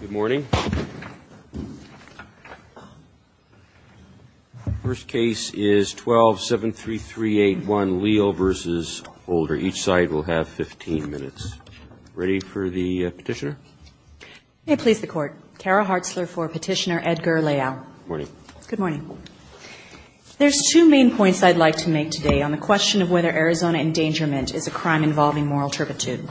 Good morning. The first case is 12-73381, Leal v. Holder. Each side will have 15 minutes. Ready for the petitioner? May it please the Court. Kara Hartzler for Petitioner, Edgar Leal. Good morning. Good morning. There's two main points I'd like to make today on the question of whether Arizona endangerment is a crime involving moral turpitude.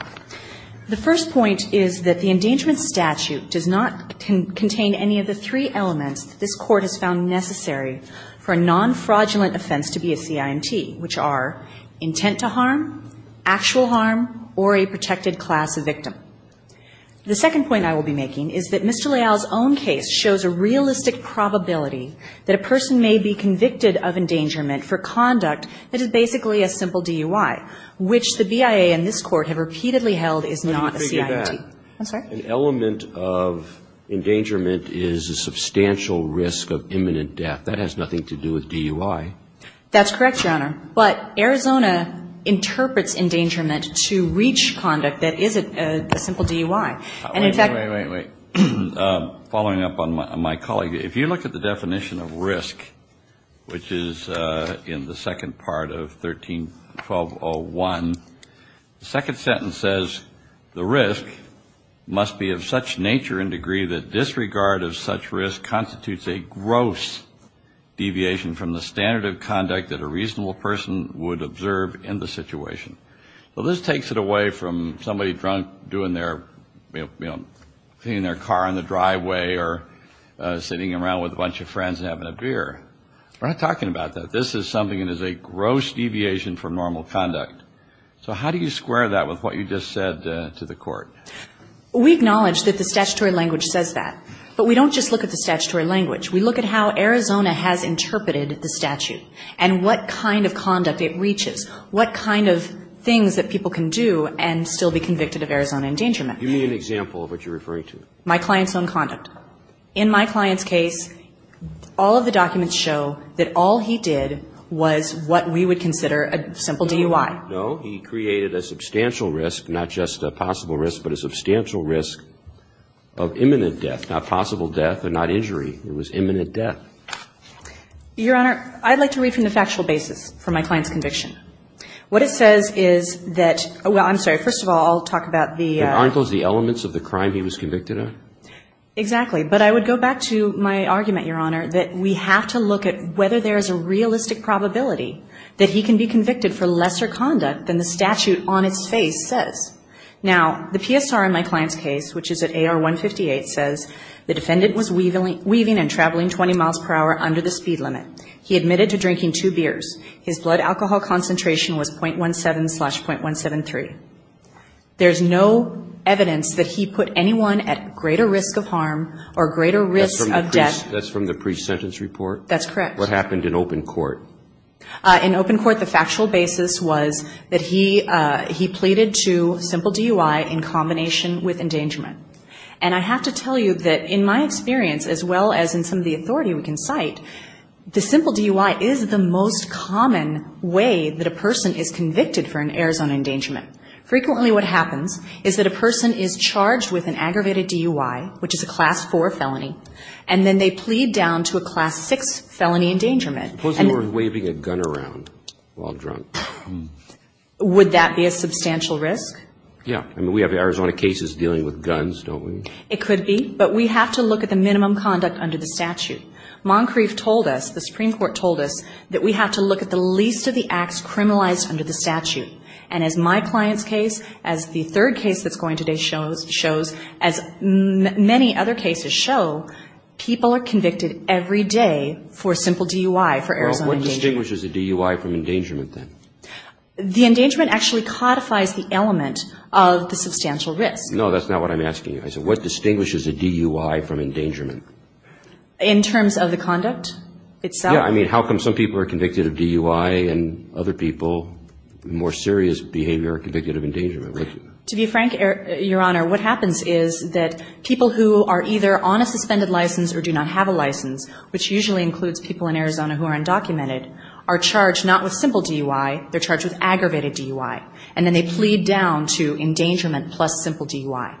The first point is that the endangerment statute does not contain any of the three elements that this Court has found necessary for a non-fraudulent offense to be a CIMT, which are intent to harm, actual harm, or a protected class of victim. The second point I will be making is that Mr. Leal's own case shows a realistic probability that a person may be convicted of is not a CIMT. I'm sorry? An element of endangerment is a substantial risk of imminent death. That has nothing to do with DUI. That's correct, Your Honor. But Arizona interprets endangerment to reach conduct that isn't a simple DUI. Wait, wait, wait, wait. Following up on my colleague, if you look at the definition of risk, which is in the second part of 13-1201, the second sentence says the risk must be of such nature and degree that disregard of such risk constitutes a gross deviation from the standard of conduct that a reasonable person would observe in the situation. Well, this takes it away from somebody drunk doing their, you know, cleaning their car on the driveway or sitting around with a bunch of friends and having a beer. We're not talking about that. This is something that is a gross deviation from normal conduct. So how do you square that with what you just said to the Court? We acknowledge that the statutory language says that. But we don't just look at the statutory language. We look at how Arizona has interpreted the statute and what kind of conduct it reaches, what kind of things that people can do and still be convicted of Arizona endangerment. Give me an example of what you're referring to. My client's own conduct. In my client's case, all of the documents show that all he did was what we would consider a simple DUI. No, he created a substantial risk, not just a possible risk, but a substantial risk of imminent death. Not possible death and not injury. It was imminent death. Your Honor, I'd like to read from the factual basis for my client's conviction. What it says is that – well, I'm sorry. First of all, I'll talk about the – The article is the elements of the crime he was convicted of? Exactly. But I would go back to my argument, Your Honor, that we have to look at whether there is a realistic probability that he can be convicted for lesser conduct than the statute on its face says. Now, the PSR in my client's case, which is at AR 158, says, the defendant was weaving and traveling 20 miles per hour under the speed limit. He admitted to drinking two beers. His blood alcohol concentration was .17 slash .173. There's no evidence that he put anyone at greater risk of harm or greater risk of death. That's from the pre-sentence report? That's correct. What happened in open court? In open court, the factual basis was that he pleaded to simple DUI in combination with endangerment. And I have to tell you that in my experience, as well as in some of the authority we can cite, the simple DUI is the most common way that a person is convicted for an Arizona endangerment. Frequently what happens is that a person is charged with an aggravated DUI, which is a Class 4 felony, and then they plead down to a Class 6 felony endangerment. Suppose they were waving a gun around while drunk. Would that be a substantial risk? Yeah. I mean, we have Arizona cases dealing with guns, don't we? It could be, but we have to look at the minimum conduct under the statute. Moncrief told us, the Supreme Court told us, that we have to look at the least of the acts criminalized under the statute. And as my client's case, as the third case that's going today shows, as many other cases show, people are convicted every day for simple DUI for Arizona endangerment. Well, what distinguishes a DUI from endangerment, then? The endangerment actually codifies the element of the substantial risk. No, that's not what I'm asking you. I said, what distinguishes a DUI from endangerment? In terms of the conduct itself? Yeah, I mean, how come some people are convicted of DUI and other people, more serious behavior, are convicted of endangerment? To be frank, Your Honor, what happens is that people who are either on a suspended license or do not have a license, which usually includes people in Arizona who are undocumented, are charged not with simple DUI, they're charged with aggravated DUI, and then they plead down to endangerment plus simple DUI.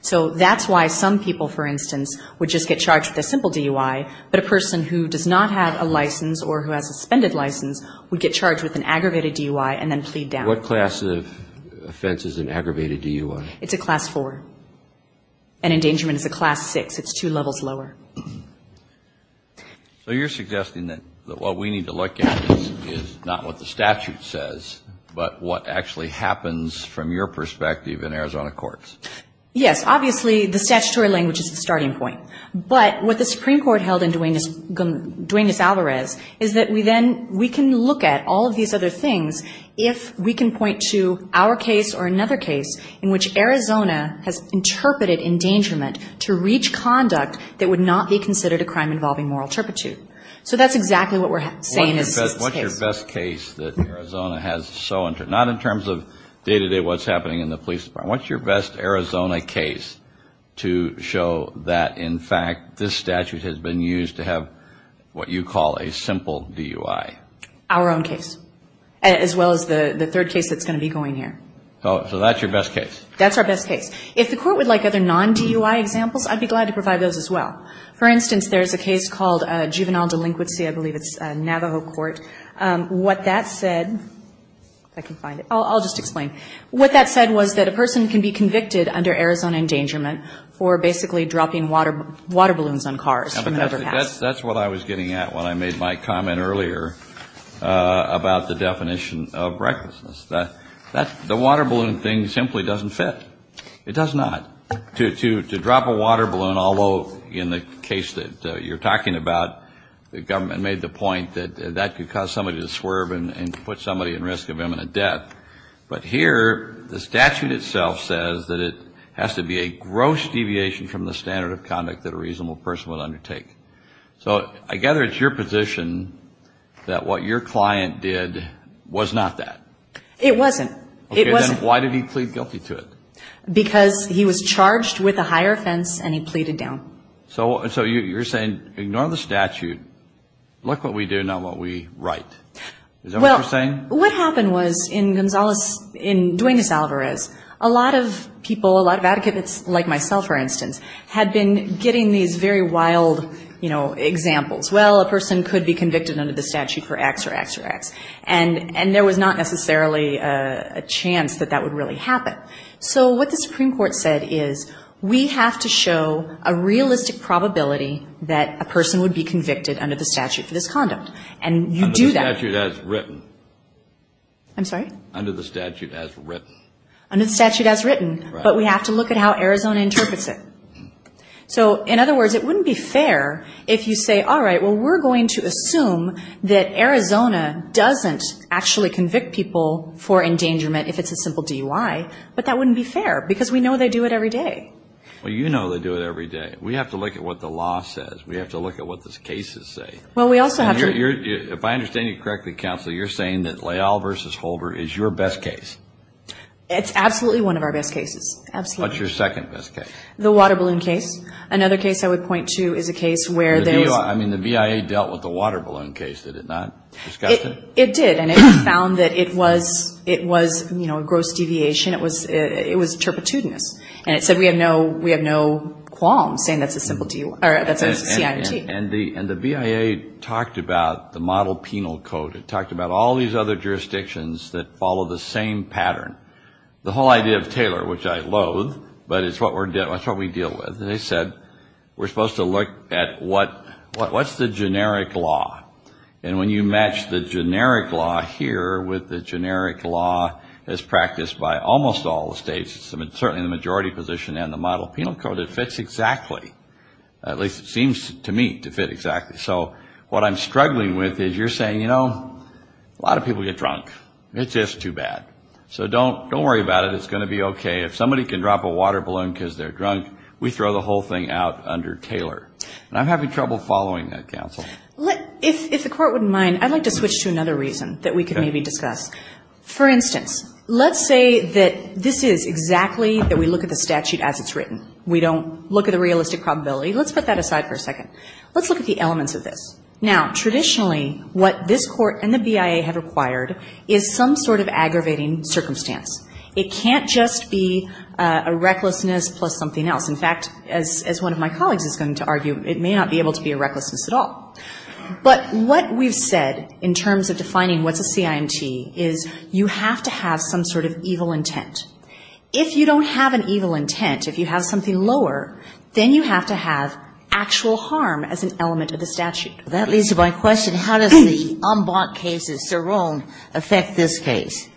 So that's why some people, for instance, would just get charged with a simple DUI, but a person who does not have a license or who has a suspended license would get charged with an aggravated DUI and then plead down. And what class of offense is an aggravated DUI? It's a Class IV. An endangerment is a Class VI. It's two levels lower. So you're suggesting that what we need to look at is not what the statute says, but what actually happens from your perspective in Arizona courts? Yes. Obviously, the statutory language is the starting point. But what the Supreme Court held in Duenas-Alvarez is that we then, we can look at all of these other things if we can point to our case or another case in which Arizona has interpreted endangerment to reach conduct that would not be considered a crime involving moral turpitude. So that's exactly what we're saying in this case. What's your best case that Arizona has so, not in terms of day-to-day what's happening in the police department, what's your best Arizona case to show that, in fact, this statute has been used to have what you call a simple DUI? Our own case, as well as the third case that's going to be going here. So that's your best case? That's our best case. If the court would like other non-DUI examples, I'd be glad to provide those as well. For instance, there's a case called Juvenile Delinquency, I believe it's a Navajo court. What that said, if I can find it, I'll just explain. What that said was that a person can be convicted under Arizona endangerment for basically dropping water balloons on cars from an overpass. That's what I was getting at when I made my comment earlier about the definition of recklessness. The water balloon thing simply doesn't fit. It does not. To drop a water balloon, although in the case that you're talking about, the government made the point that that could cause somebody to swerve and put somebody in risk of imminent death. But here the statute itself says that it has to be a gross deviation from the standard of conduct that a reasonable person would undertake. So I gather it's your position that what your client did was not that. It wasn't. Then why did he plead guilty to it? Because he was charged with a higher offense and he pleaded down. So you're saying, ignore the statute, look what we do, not what we write. Is that what you're saying? Well, what happened was in Duenas-Alvarez, a lot of people, a lot of advocates, like myself, for instance, had been getting these very wild, you know, examples. Well, a person could be convicted under the statute for X or X or X. And there was not necessarily a chance that that would really happen. So what the Supreme Court said is we have to show a realistic probability that a person would be convicted under the statute for this conduct. And you do that. Under the statute as written. Under the statute as written. Under the statute as written. But we have to look at how Arizona interprets it. So, in other words, it wouldn't be fair if you say, all right, well, we're going to assume that Arizona doesn't actually convict people for endangerment if it's a simple DUI. But that wouldn't be fair because we know they do it every day. Well, you know they do it every day. We have to look at what the law says. We have to look at what the cases say. Well, we also have to. If I understand you correctly, Counselor, you're saying that Leal v. Holder is your best case. It's absolutely one of our best cases. Absolutely. What's your second best case? The water balloon case. Another case I would point to is a case where there was. I mean the VIA dealt with the water balloon case, did it not? Discussed it? It did. And it found that it was, you know, a gross deviation. It was turpitudinous. And it said we have no qualms saying that's a simple DUI. Or that's a CIT. And the VIA talked about the model penal code. It talked about all these other jurisdictions that follow the same pattern. The whole idea of Taylor, which I loathe, but it's what we deal with. They said we're supposed to look at what's the generic law. And when you match the generic law here with the generic law as practiced by almost all the states, certainly the majority position and the model penal code, it fits exactly. At least it seems to me to fit exactly. So what I'm struggling with is you're saying, you know, a lot of people get drunk. It's just too bad. So don't worry about it. It's going to be okay. If somebody can drop a water balloon because they're drunk, we throw the whole thing out under Taylor. And I'm having trouble following that, counsel. If the court wouldn't mind, I'd like to switch to another reason that we could maybe discuss. For instance, let's say that this is exactly that we look at the statute as it's written. We don't look at the realistic probability. Let's put that aside for a second. Let's look at the elements of this. Now, traditionally, what this court and the BIA have required is some sort of aggravating circumstance. It can't just be a recklessness plus something else. In fact, as one of my colleagues is going to argue, it may not be able to be a recklessness at all. But what we've said in terms of defining what's a CIMT is you have to have some sort of evil intent. If you don't have an evil intent, if you have something lower, then you have to have actual harm as an element of the statute. That leads to my question. How does the en banc case of Cerrone affect this case?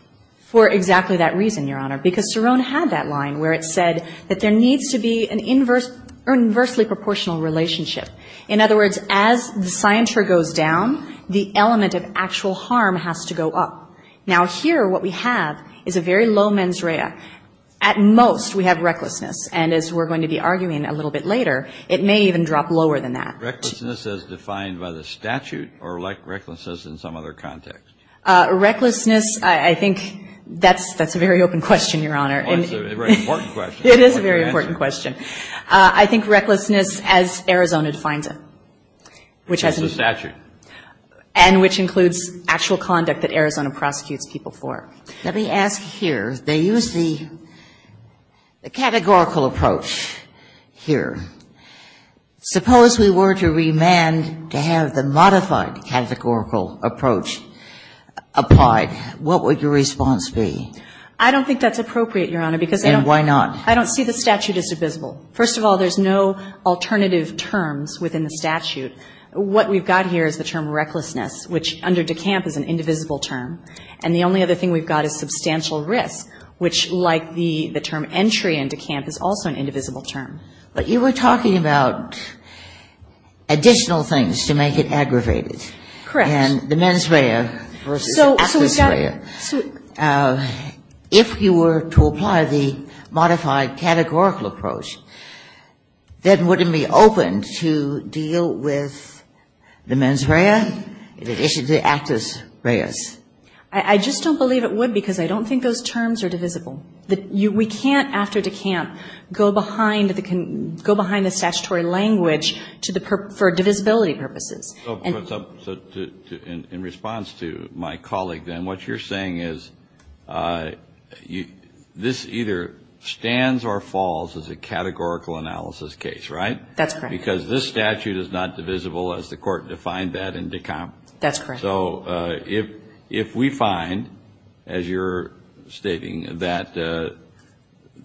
For exactly that reason, Your Honor, because Cerrone had that line where it said that there needs to be an inversely proportional relationship. In other words, as the scienter goes down, the element of actual harm has to go up. Now, here what we have is a very low mens rea. At most, we have recklessness. And as we're going to be arguing a little bit later, it may even drop lower than that. Recklessness as defined by the statute or like recklessness in some other context? Recklessness, I think that's a very open question, Your Honor. It's a very important question. It is a very important question. I think recklessness as Arizona defines it. Which is the statute. And which includes actual conduct that Arizona prosecutes people for. Let me ask here. They use the categorical approach here. Suppose we were to remand to have the modified categorical approach applied. What would your response be? I don't think that's appropriate, Your Honor, because I don't. And why not? I don't see the statute as divisible. First of all, there's no alternative terms within the statute. What we've got here is the term recklessness, which under DeCamp is an indivisible term. And the only other thing we've got is substantial risk, which like the term entry in DeCamp is also an indivisible term. But you were talking about additional things to make it aggravated. Correct. And the mens rea versus actus rea. If you were to apply the modified categorical approach, then would it be open to deal with the mens rea in addition to the actus reas? I just don't believe it would because I don't think those terms are divisible. We can't, after DeCamp, go behind the statutory language for divisibility purposes. In response to my colleague, then, what you're saying is this either stands or falls as a categorical analysis case, right? That's correct. Because this statute is not divisible, as the Court defined that in DeCamp. That's correct. So if we find, as you're stating, that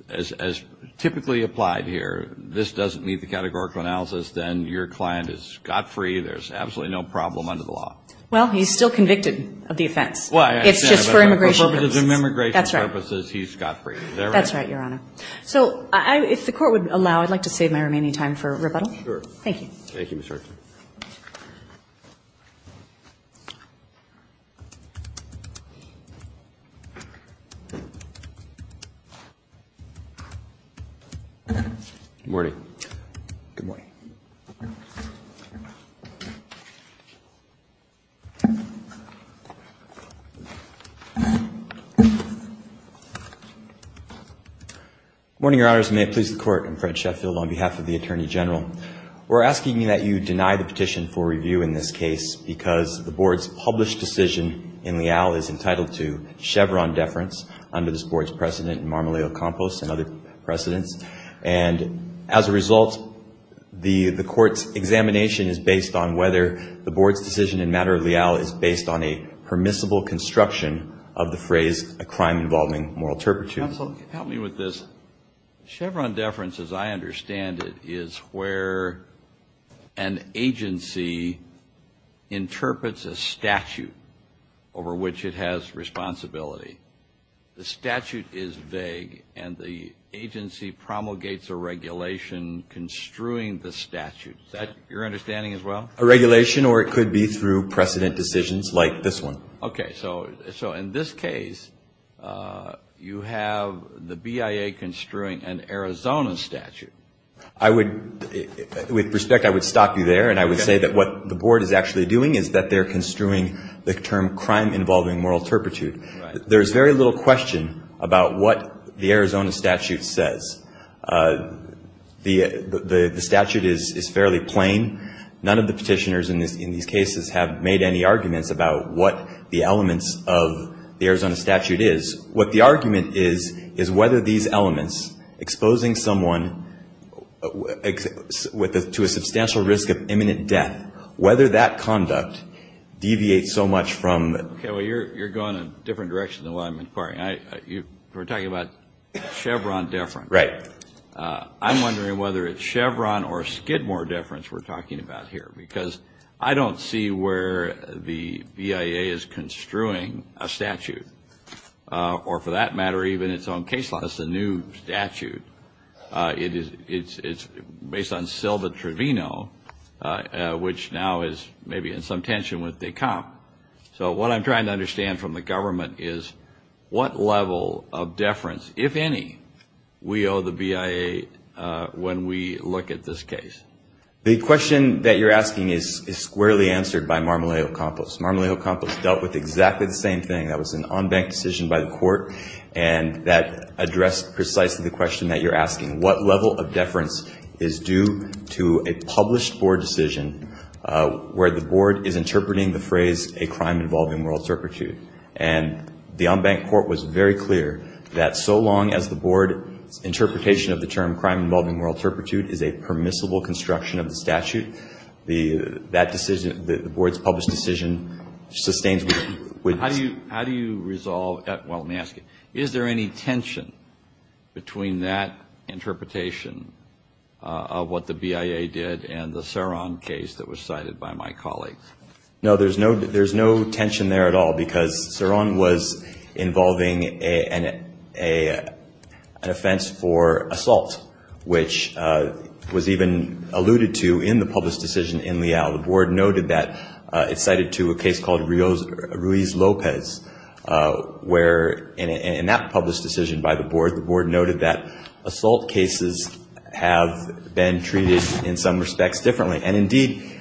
as typically applied here, this doesn't meet the categorical analysis, then your client is scot-free. There's absolutely no problem under the law. Well, he's still convicted of the offense. It's just for immigration purposes. For immigration purposes, he's scot-free. Is that right? That's right, Your Honor. So if the Court would allow, I'd like to save my remaining time for rebuttal. Sure. Thank you. Thank you, Mr. Arkin. Good morning. Good morning. Good morning, Your Honors. May it please the Court, I'm Fred Sheffield on behalf of the Attorney General. We're asking that you deny the petition for review in this case because the Board's published decision in Leal is entitled to Chevron deference under this Board's precedent in Marmoleo Compost and other precedents. And as a result, the Court's examination is based on whether the Board's decision in matter of Leal is based on a permissible construction of the phrase, a crime involving moral turpitude. Counsel, help me with this. Chevron deference, as I understand it, is where an agency interprets a statute over which it has responsibility. The statute is vague, and the agency promulgates a regulation construing the statute. Is that your understanding as well? A regulation, or it could be through precedent decisions like this one. Okay. So in this case, you have the BIA construing an Arizona statute. I would, with respect, I would stop you there, and I would say that what the Board is actually doing is that they're construing the term crime involving moral turpitude. There's very little question about what the Arizona statute says. The statute is fairly plain. None of the Petitioners in these cases have made any arguments about what the elements of the Arizona statute is. What the argument is, is whether these elements, exposing someone to a substantial risk of imminent death, whether that conduct deviates so much from the... Okay. Well, you're going a different direction than what I'm inquiring. We're talking about Chevron deference. Right. I'm wondering whether it's Chevron or Skidmore deference we're talking about here, because I don't see where the BIA is construing a statute, or for that matter, even its own case law. It's a new statute. It's based on Silva Trevino, which now is maybe in some tension with the comp. So what I'm trying to understand from the government is what level of deference, if any, we owe the BIA when we look at this case. The question that you're asking is squarely answered by Marmolejo-Campos. Marmolejo-Campos dealt with exactly the same thing. That was an on-bank decision by the court, and that addressed precisely the question that you're asking. What level of deference is due to a published board decision where the board is interpreting the phrase, a crime involving moral turpitude? And the on-bank court was very clear that so long as the board's interpretation of the term crime involving moral turpitude is a permissible construction of the statute, that decision, the board's published decision, sustains. How do you resolve that? Well, let me ask you. Is there any tension between that interpretation of what the BIA did and the Cerron case that was cited by my colleagues? No, there's no tension there at all because Cerron was involving an offense for assault, which was even alluded to in the published decision in Leal. The board noted that it's cited to a case called Ruiz-Lopez, where in that published decision by the board, the board noted that assault cases have been treated in some respects differently. And indeed,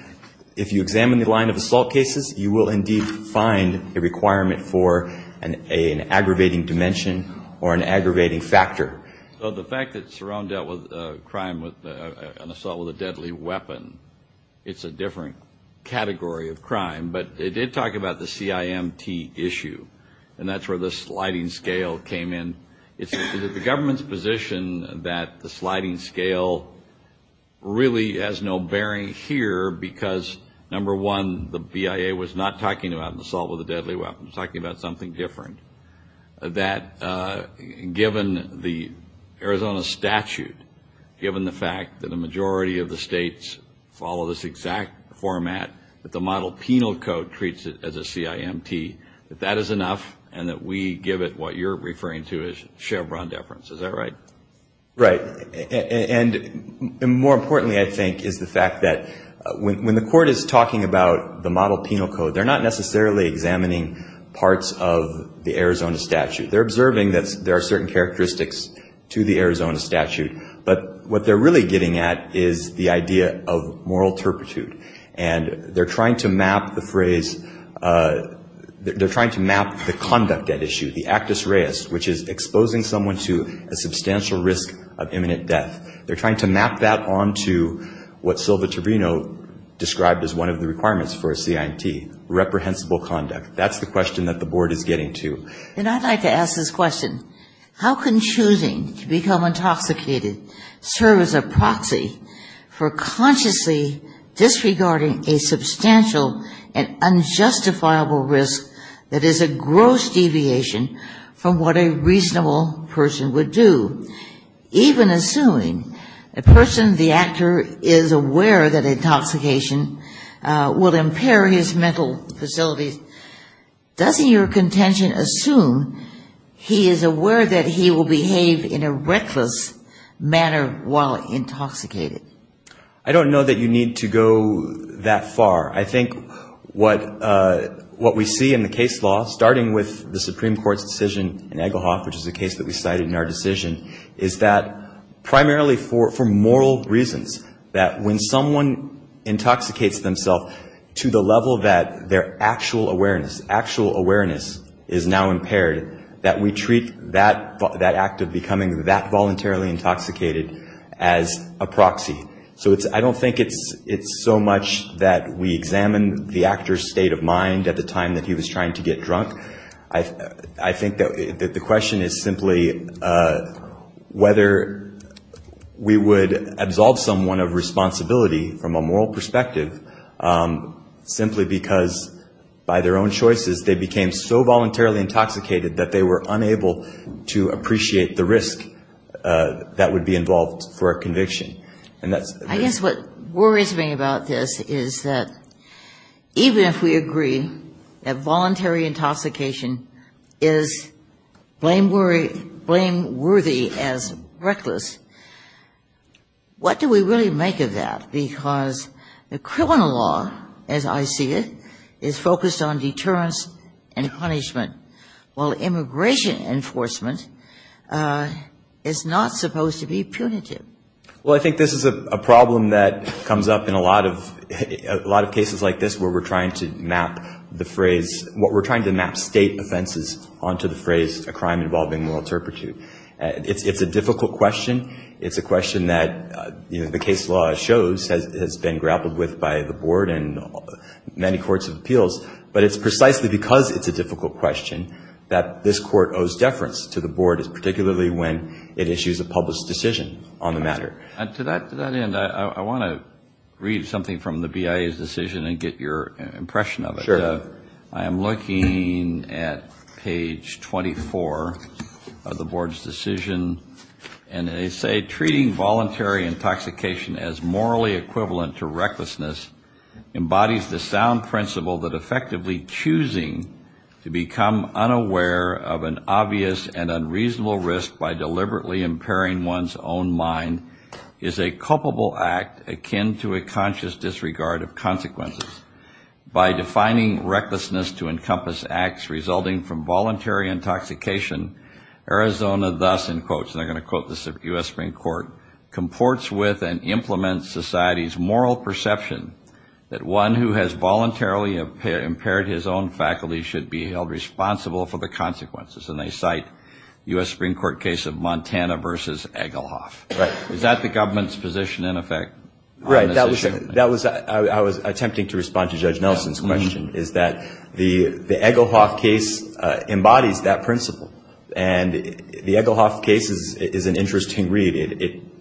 if you examine the line of assault cases, you will indeed find a requirement for an aggravating dimension or an aggravating factor. So the fact that Cerron dealt with a crime with an assault with a deadly weapon, it's a different category of crime. But it did talk about the CIMT issue, and that's where the sliding scale came in. Is it the government's position that the sliding scale really has no bearing here because, number one, the BIA was not talking about an assault with a deadly weapon. It was talking about something different, that given the Arizona statute, given the fact that a majority of the states follow this exact format, that the model penal code treats it as a CIMT, that that is enough and that we give it what you're referring to as a Chevron deference. Is that right? Right. And more importantly, I think, is the fact that when the court is talking about the model penal code, they're not necessarily examining parts of the Arizona statute. They're observing that there are certain characteristics to the Arizona statute, but what they're really getting at is the idea of moral turpitude. And they're trying to map the phrase, they're trying to map the conduct at issue, the actus reus, which is exposing someone to a substantial risk of imminent death. They're trying to map that on to what Sylva Trevino described as one of the requirements for a CIMT, reprehensible conduct. That's the question that the board is getting to. And I'd like to ask this question. How can choosing to become intoxicated serve as a proxy for consciously disregarding a substantial and unjustifiable risk that is a gross deviation from what a reasonable person would do, even assuming a person, the actor, is aware that intoxication will impair his mental facilities? Does your contention assume he is aware that he will behave in a reckless manner while intoxicated? I don't know that you need to go that far. I think what we see in the case law, starting with the Supreme Court's decision in Egglehoff, which is a case that we cited in our decision, is that primarily for moral reasons, that when someone intoxicates themselves to the level that their actual awareness, actual awareness is now impaired, that we treat that act of becoming that voluntarily intoxicated as a proxy. So I don't think it's so much that we examine the actor's state of mind at the time that he was trying to get drunk. I think that the question is simply whether we would absolve someone of responsibility from a moral perspective simply because by their own choices they became so voluntarily intoxicated that they were unable to appreciate the risk that would be involved for a conviction. I guess what worries me about this is that even if we agree that voluntary intoxication is blameworthy as reckless, what do we really make of that? Because the criminal law, as I see it, is focused on deterrence and punishment, while immigration enforcement is not supposed to be punitive. Well, I think this is a problem that comes up in a lot of cases like this where we're trying to map the phrase, what we're trying to map state offenses onto the phrase a crime involving moral turpitude. It's a difficult question. It's a question that the case law shows has been grappled with by the board and many courts of appeals. But it's precisely because it's a difficult question that this court owes deference to the board, particularly when it issues a public decision on the matter. And to that end, I want to read something from the BIA's decision and get your impression of it. Sure. I am looking at page 24 of the board's decision, and they say treating voluntary intoxication as morally equivalent to recklessness embodies the sound principle that effectively choosing to become unaware of an obvious and unreasonable risk by deliberately impairing one's own mind is a culpable act akin to a conscious disregard of consequences. By defining recklessness to encompass acts resulting from voluntary intoxication, Arizona thus, in quotes, and I'm going to quote the U.S. Supreme Court, comports with and implements society's moral perception that one who has voluntarily impaired his own faculty should be held responsible for the consequences. And they cite U.S. Supreme Court case of Montana versus Egelhoff. Right. Is that the government's position in effect? Right. I was attempting to respond to Judge Nelson's question, is that the Egelhoff case embodies that principle. And the Egelhoff case is an interesting read.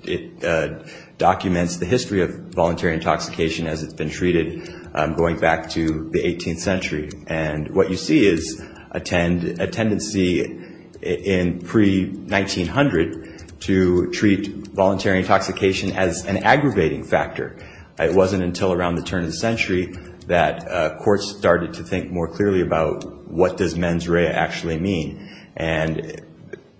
It documents the history of voluntary intoxication as it's been treated going back to the 18th century. And what you see is a tendency in pre-1900 to treat voluntary intoxication as an aggravating factor. It wasn't until around the turn of the century that courts started to think more clearly about what does mens rea actually mean. And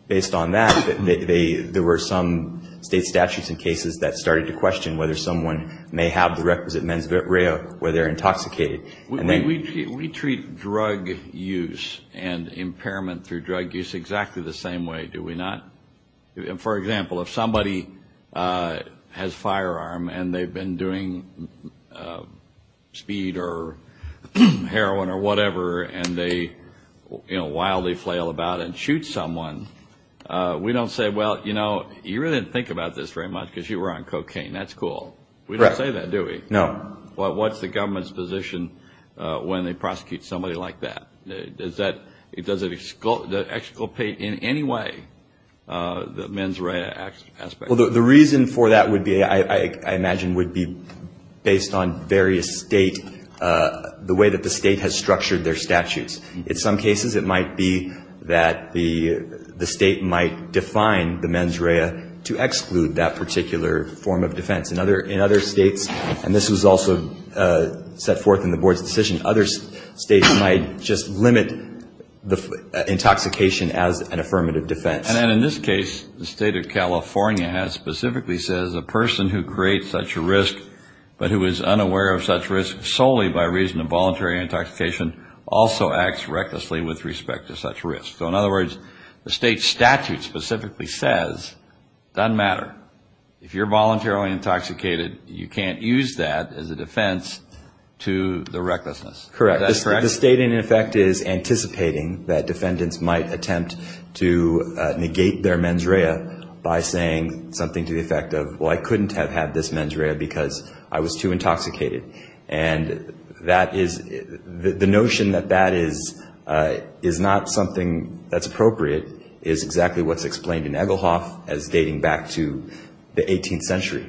based on that, there were some state statutes and cases that started to question whether someone may have the requisite mens rea where they're intoxicated. We treat drug use and impairment through drug use exactly the same way, do we not? For example, if somebody has a firearm and they've been doing speed or heroin or whatever, and they wildly flail about and shoot someone, we don't say, well, you really didn't think about this very much because you were on cocaine. That's cool. We don't say that, do we? No. What's the government's position when they prosecute somebody like that? Does it exculpate in any way the mens rea aspect? Well, the reason for that would be, I imagine, would be based on various state, the way that the state has structured their statutes. In some cases it might be that the state might define the mens rea to exclude that particular form of defense. In other states, and this was also set forth in the board's decision, other states might just limit the intoxication as an affirmative defense. And then in this case, the state of California specifically says, a person who creates such a risk but who is unaware of such risk solely by reason of voluntary intoxication also acts recklessly with respect to such risk. So in other words, the state statute specifically says, it doesn't matter. If you're voluntarily intoxicated, you can't use that as a defense to the recklessness. Correct. Is that correct? The state, in effect, is anticipating that defendants might attempt to negate their mens rea by saying something to the effect of, well, I couldn't have had this mens rea because I was too intoxicated. And that is, the notion that that is not something that's appropriate is exactly what's explained in Egelhoff as dating back to the 18th century.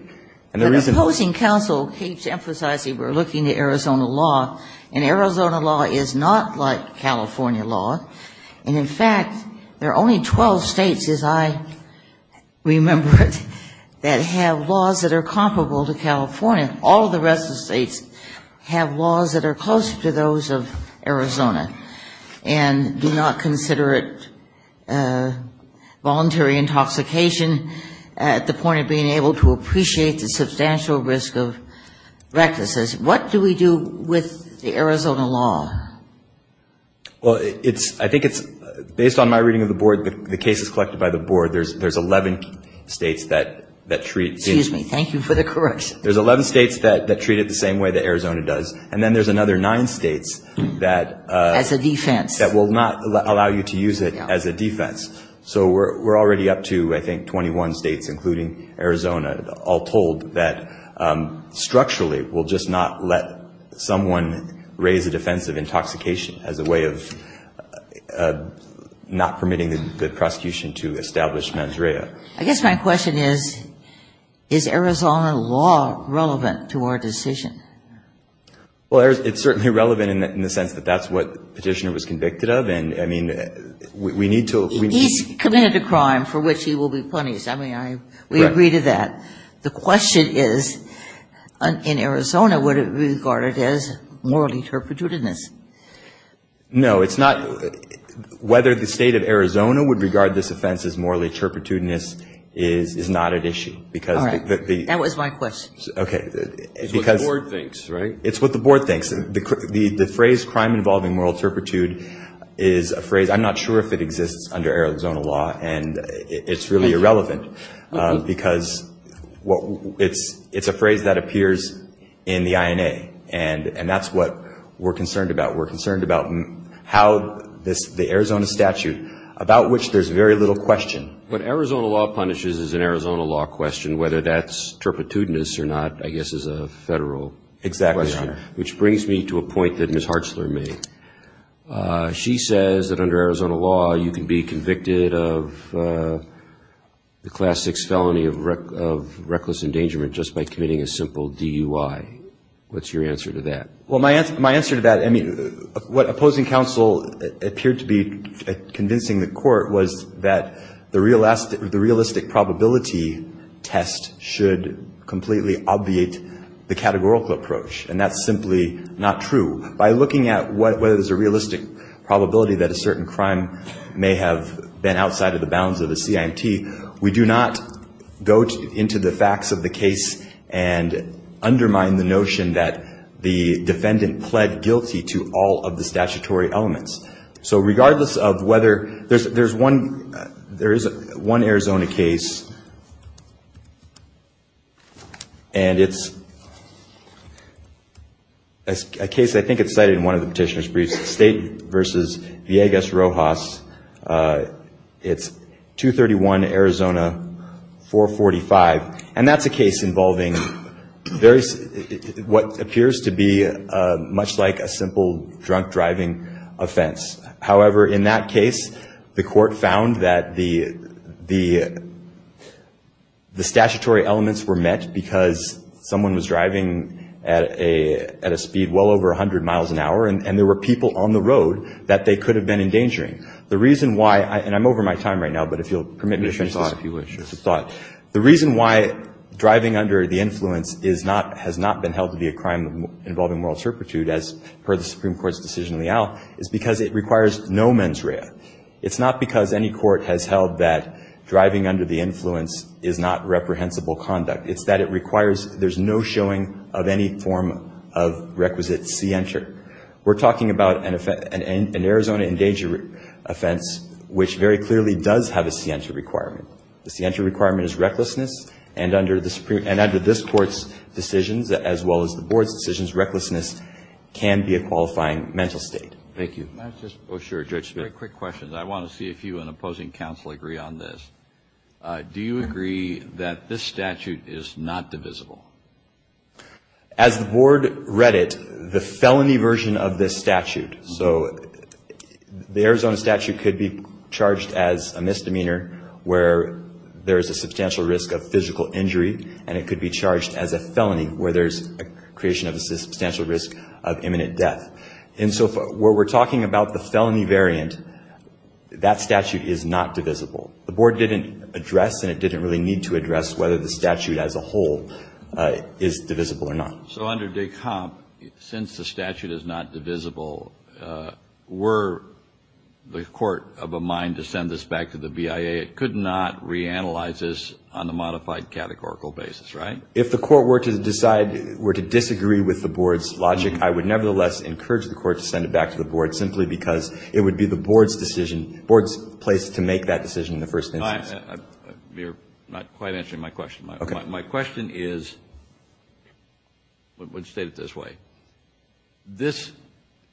But the opposing counsel keeps emphasizing we're looking to Arizona law, and Arizona law is not like California law. And, in fact, there are only 12 states, as I remember it, that have laws that are comparable to California. All the rest of the states have laws that are closer to those of Arizona and do not consider it voluntary intoxication at the point of being able to appreciate the substantial risk of recklessness. What do we do with the Arizona law? Well, I think it's, based on my reading of the board, the cases collected by the board, there's 11 states that treat Excuse me. Thank you for the correction. There's 11 states that treat it the same way that Arizona does. And then there's another nine states that As a defense. That will not allow you to use it as a defense. So we're already up to, I think, 21 states, including Arizona, all told that structurally we'll just not let someone raise a defense of intoxication as a way of not permitting the prosecution to establish mens rea. I guess my question is, is Arizona law relevant to our decision? Well, it's certainly relevant in the sense that that's what the petitioner was convicted of. He's committed a crime for which he will be punished. I mean, we agree to that. The question is, in Arizona, would it be regarded as morally turpitudinous? No, it's not. Whether the state of Arizona would regard this offense as morally turpitudinous is not at issue. All right. That was my question. Okay. It's what the board thinks, right? It's what the board thinks. The phrase crime involving moral turpitude is a phrase, I'm not sure if it exists under Arizona law, and it's really irrelevant. Because it's a phrase that appears in the INA, and that's what we're concerned about. We're concerned about how the Arizona statute, about which there's very little question. What Arizona law punishes is an Arizona law question, whether that's turpitudinous or not, I guess, is a federal question. Exactly, Your Honor. Which brings me to a point that Ms. Hartzler made. She says that under Arizona law, you can be convicted of the Class 6 felony of reckless endangerment just by committing a simple DUI. What's your answer to that? Well, my answer to that, I mean, what opposing counsel appeared to be convincing the court was that the realistic probability test should completely obviate the categorical approach, and that's simply not true. By looking at whether there's a realistic probability that a certain crime may have been outside of the bounds of a CIMT, we do not go into the facts of the case and undermine the notion that the defendant pled guilty to all of the statutory elements. So regardless of whether there's one Arizona case, and it's a case I think it's cited in one of the petitioner's briefs, State v. Villegas Rojas. It's 231 Arizona 445, and that's a case involving what appears to be much like a simple drunk driving offense. However, in that case, the court found that the statutory elements were met because someone was driving at a speed well over 100 miles an hour, and there were people on the road that they could have been endangering. The reason why, and I'm over my time right now, but if you'll permit me to finish this thought. The reason why driving under the influence is not, has not been held to be a crime involving moral turpitude, as per the Supreme Court's decision in the out, is because it requires no mens rea. It's not because any court has held that driving under the influence is not reprehensible conduct. It's that it requires, there's no showing of any form of requisite scienter. We're talking about an Arizona endangerment offense, which very clearly does have a scienter requirement. The scienter requirement is recklessness, and under this court's decisions, as well as the board's decisions, recklessness can be a qualifying mental state. Thank you. Can I just, oh sure, Judge Smith. Three quick questions. I want to see if you and opposing counsel agree on this. Do you agree that this statute is not divisible? As the board read it, the felony version of this statute, so the Arizona statute could be charged as a misdemeanor where there is a substantial risk of physical injury, and it could be charged as a felony where there's a creation of a substantial risk of imminent death. And so where we're talking about the felony variant, that statute is not divisible. The board didn't address, and it didn't really need to address, whether the statute as a whole is divisible or not. So under Descamp, since the statute is not divisible, were the court of a mind to send this back to the BIA? It could not reanalyze this on a modified categorical basis, right? If the court were to decide, were to disagree with the board's logic, I would nevertheless encourage the court to send it back to the board simply because it would be the board's decision, in the first instance. You're not quite answering my question. Okay. My question is, let's state it this way. This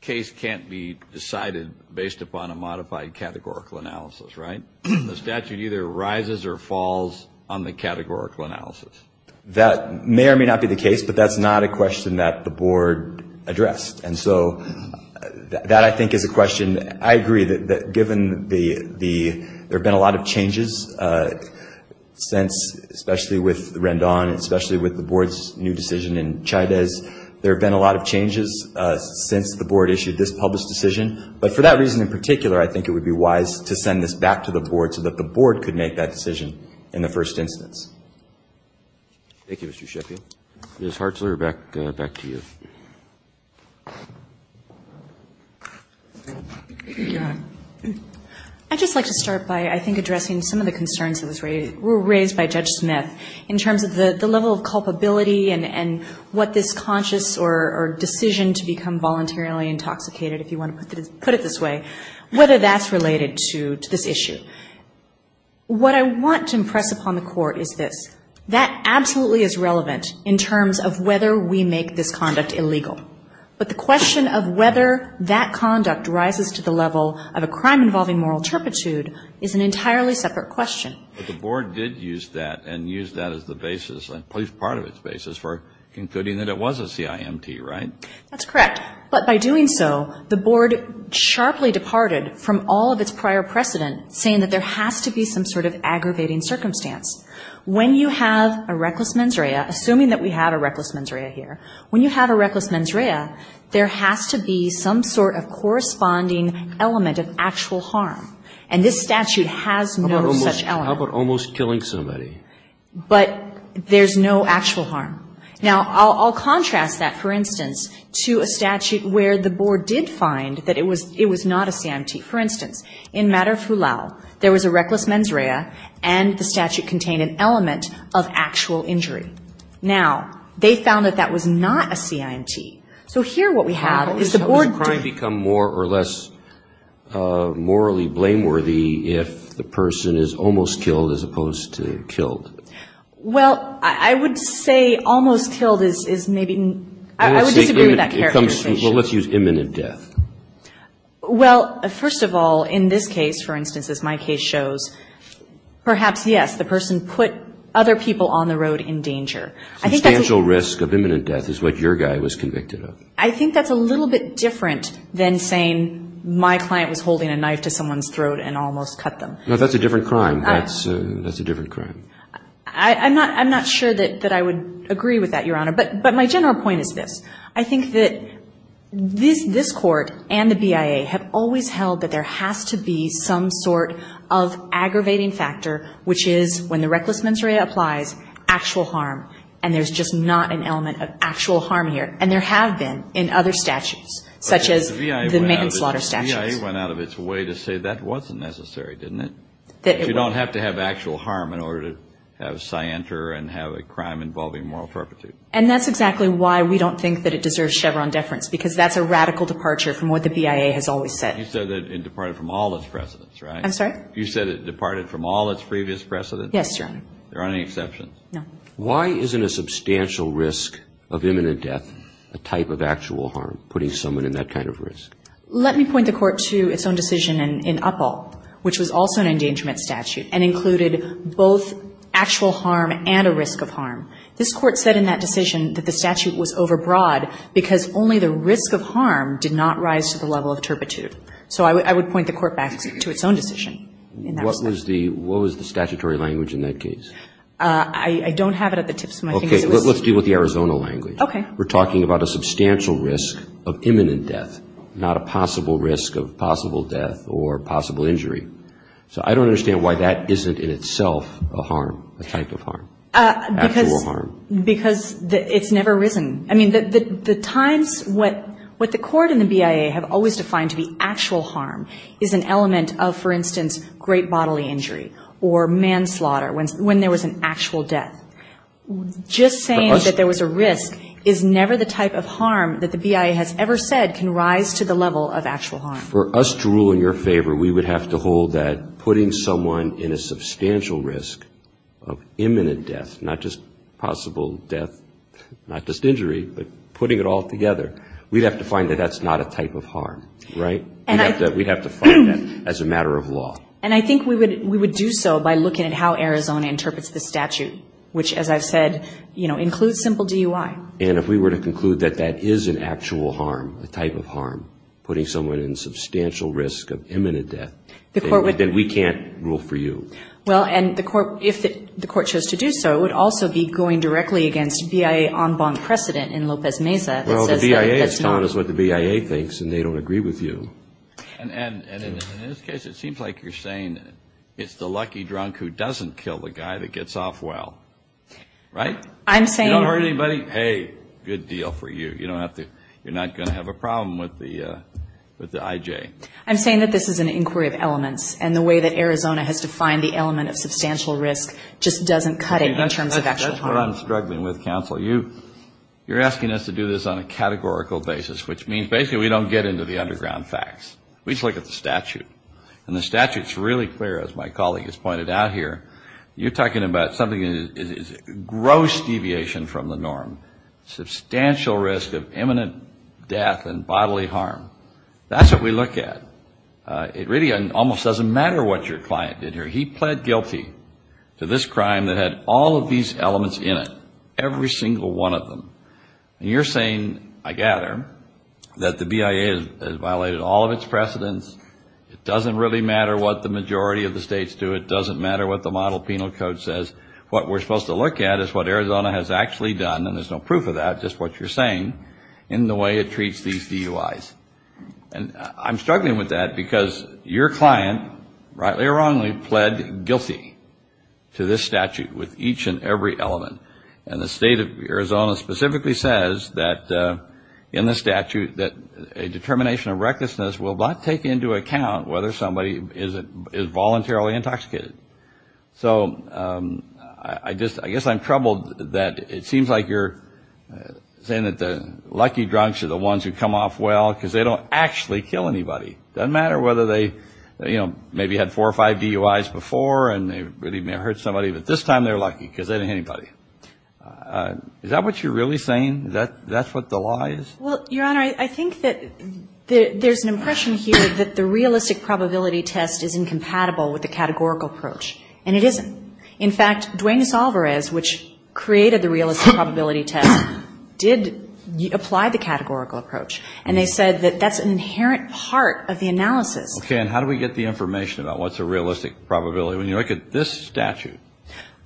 case can't be decided based upon a modified categorical analysis, right? The statute either rises or falls on the categorical analysis. That may or may not be the case, but that's not a question that the board addressed. And so that, I think, is a question. I agree that given the ‑‑ there have been a lot of changes since, especially with Rendon and especially with the board's new decision in Chavez, there have been a lot of changes since the board issued this published decision. But for that reason in particular, I think it would be wise to send this back to the board so that the board could make that decision in the first instance. Thank you, Mr. Sheffield. Ms. Hartzler, back to you. Go ahead. I'd just like to start by, I think, addressing some of the concerns that were raised by Judge Smith in terms of the level of culpability and what this conscious or decision to become voluntarily intoxicated, if you want to put it this way, whether that's related to this issue. What I want to impress upon the court is this. That absolutely is relevant in terms of whether we make this conduct illegal. But the question of whether that conduct rises to the level of a crime involving moral turpitude is an entirely separate question. But the board did use that and used that as the basis, at least part of its basis, for concluding that it was a CIMT, right? That's correct. But by doing so, the board sharply departed from all of its prior precedent, saying that there has to be some sort of aggravating circumstance. When you have a reckless mens rea, assuming that we have a reckless mens rea here, when you have a reckless mens rea, there has to be some sort of corresponding element of actual harm. And this statute has no such element. How about almost killing somebody? But there's no actual harm. Now, I'll contrast that, for instance, to a statute where the board did find that it was not a CIMT. For instance, in Madar-Fulao, there was a reckless mens rea and the statute contained an element of actual injury. Now, they found that that was not a CIMT. So here what we have is the board didn't do that. Alito, does the crime become more or less morally blameworthy if the person is almost killed as opposed to killed? Well, I would say almost killed is maybe, I would disagree with that characterization. Well, let's use imminent death. Well, first of all, in this case, for instance, as my case shows, perhaps, yes, the person put other people on the road in danger. Substantial risk of imminent death is what your guy was convicted of. I think that's a little bit different than saying my client was holding a knife to someone's throat and almost cut them. No, that's a different crime. That's a different crime. I'm not sure that I would agree with that, Your Honor. But my general point is this. I think that this Court and the BIA have always held that there has to be some sort of aggravating factor, which is when the reckless mens rea applies, actual harm, and there's just not an element of actual harm here. And there have been in other statutes, such as the maiden slaughter statutes. But the BIA went out of its way to say that wasn't necessary, didn't it? That you don't have to have actual harm in order to have scienter and have a crime involving moral perpetuity. And that's exactly why we don't think that it deserves Chevron deference, because that's a radical departure from what the BIA has always said. You said that it departed from all its precedents, right? I'm sorry? You said it departed from all its previous precedents? Yes, Your Honor. There aren't any exceptions? No. Why isn't a substantial risk of imminent death a type of actual harm, putting someone in that kind of risk? Let me point the Court to its own decision in Uppal, which was also an endangerment statute and included both actual harm and a risk of harm. This Court said in that decision that the statute was overbroad because only the risk of harm did not rise to the level of turpitude. So I would point the Court back to its own decision in that respect. What was the statutory language in that case? I don't have it at the tips of my fingers. Okay. Let's deal with the Arizona language. Okay. We're talking about a substantial risk of imminent death, not a possible risk of possible death or possible injury. So I don't understand why that isn't in itself a harm, a type of harm. Actual harm. Because it's never risen. I mean, the times, what the Court and the BIA have always defined to be actual harm is an element of, for instance, great bodily injury or manslaughter when there was an actual death. Just saying that there was a risk is never the type of harm that the BIA has ever said can rise to the level of actual harm. For us to rule in your favor, we would have to hold that putting someone in a substantial risk of imminent death, not just possible death, not just injury, but putting it all together, we'd have to find that that's not a type of harm. Right? We'd have to find that as a matter of law. And I think we would do so by looking at how Arizona interprets the statute, which, as I've said, includes simple DUI. And if we were to conclude that that is an actual harm, a type of harm, putting someone in substantial risk of imminent death, then we can't rule for you. Well, and if the Court chose to do so, it would also be going directly against BIA en banc precedent in Lopez-Mesa that says that that's not. Well, the BIA has told us what the BIA thinks, and they don't agree with you. And in this case, it seems like you're saying it's the lucky drunk who doesn't kill the guy that gets off well. Right? I'm saying. You don't hurt anybody, hey, good deal for you. You're not going to have a problem with the IJ. I'm saying that this is an inquiry of elements. And the way that Arizona has defined the element of substantial risk just doesn't cut it in terms of actual harm. That's what I'm struggling with, counsel. You're asking us to do this on a categorical basis, which means basically we don't get into the underground facts. We just look at the statute. And the statute's really clear, as my colleague has pointed out here. You're talking about something that is gross deviation from the norm, substantial risk of imminent death and bodily harm. That's what we look at. It really almost doesn't matter what your client did here. He pled guilty to this crime that had all of these elements in it, every single one of them. And you're saying, I gather, that the BIA has violated all of its precedents. It doesn't really matter what the majority of the states do. It doesn't matter what the model penal code says. What we're supposed to look at is what Arizona has actually done, and there's no proof of that, just what you're saying, in the way it treats these DUIs. And I'm struggling with that because your client, rightly or wrongly, pled guilty to this statute with each and every element. And the state of Arizona specifically says that, in the statute, that a determination of recklessness will not take into account whether somebody is voluntarily intoxicated. So I guess I'm troubled that it seems like you're saying that the lucky drunks are the ones who come off well because they don't actually kill anybody, doesn't matter whether they, you know, maybe had four or five DUIs before and they really may have hurt somebody, but this time they're lucky because they didn't hit anybody. Is that what you're really saying, that that's what the law is? Well, Your Honor, I think that there's an impression here that the realistic probability test is incompatible with the categorical approach. And it isn't. In fact, Duenes-Alvarez, which created the realistic probability test, did apply the categorical approach. And they said that that's an inherent part of the analysis. Okay. And how do we get the information about what's a realistic probability? When you look at this statute,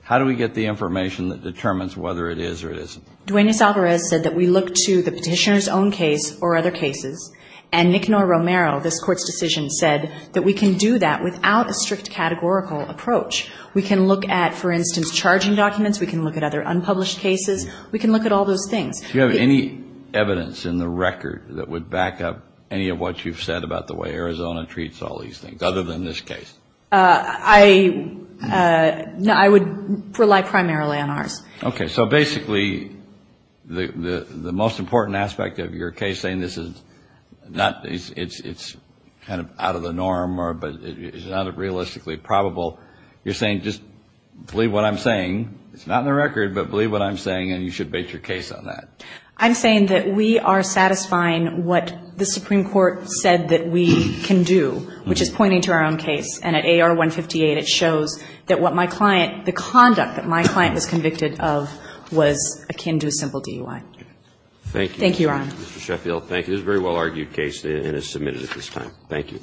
how do we get the information that determines whether it is or it isn't? Duenes-Alvarez said that we look to the petitioner's own case or other cases. And Nicknor-Romero, this Court's decision, said that we can do that without a strict categorical approach. We can look at, for instance, charging documents. We can look at other unpublished cases. We can look at all those things. Do you have any evidence in the record that would back up any of what you've said about the way Arizona treats all these things, other than this case? I would rely primarily on ours. Okay. So basically the most important aspect of your case saying this is not, it's kind of out of the norm, but it's not realistically probable, you're saying just believe what I'm saying. It's not in the record, but believe what I'm saying, and you should base your case on that. I'm saying that we are satisfying what the Supreme Court said that we can do, which is pointing to our own case. And at AR-158, it shows that what my client, the conduct that my client was convicted of was akin to a simple DUI. Thank you. Thank you, Your Honor. Mr. Sheffield, thank you. This is a very well-argued case and is submitted at this time. Thank you.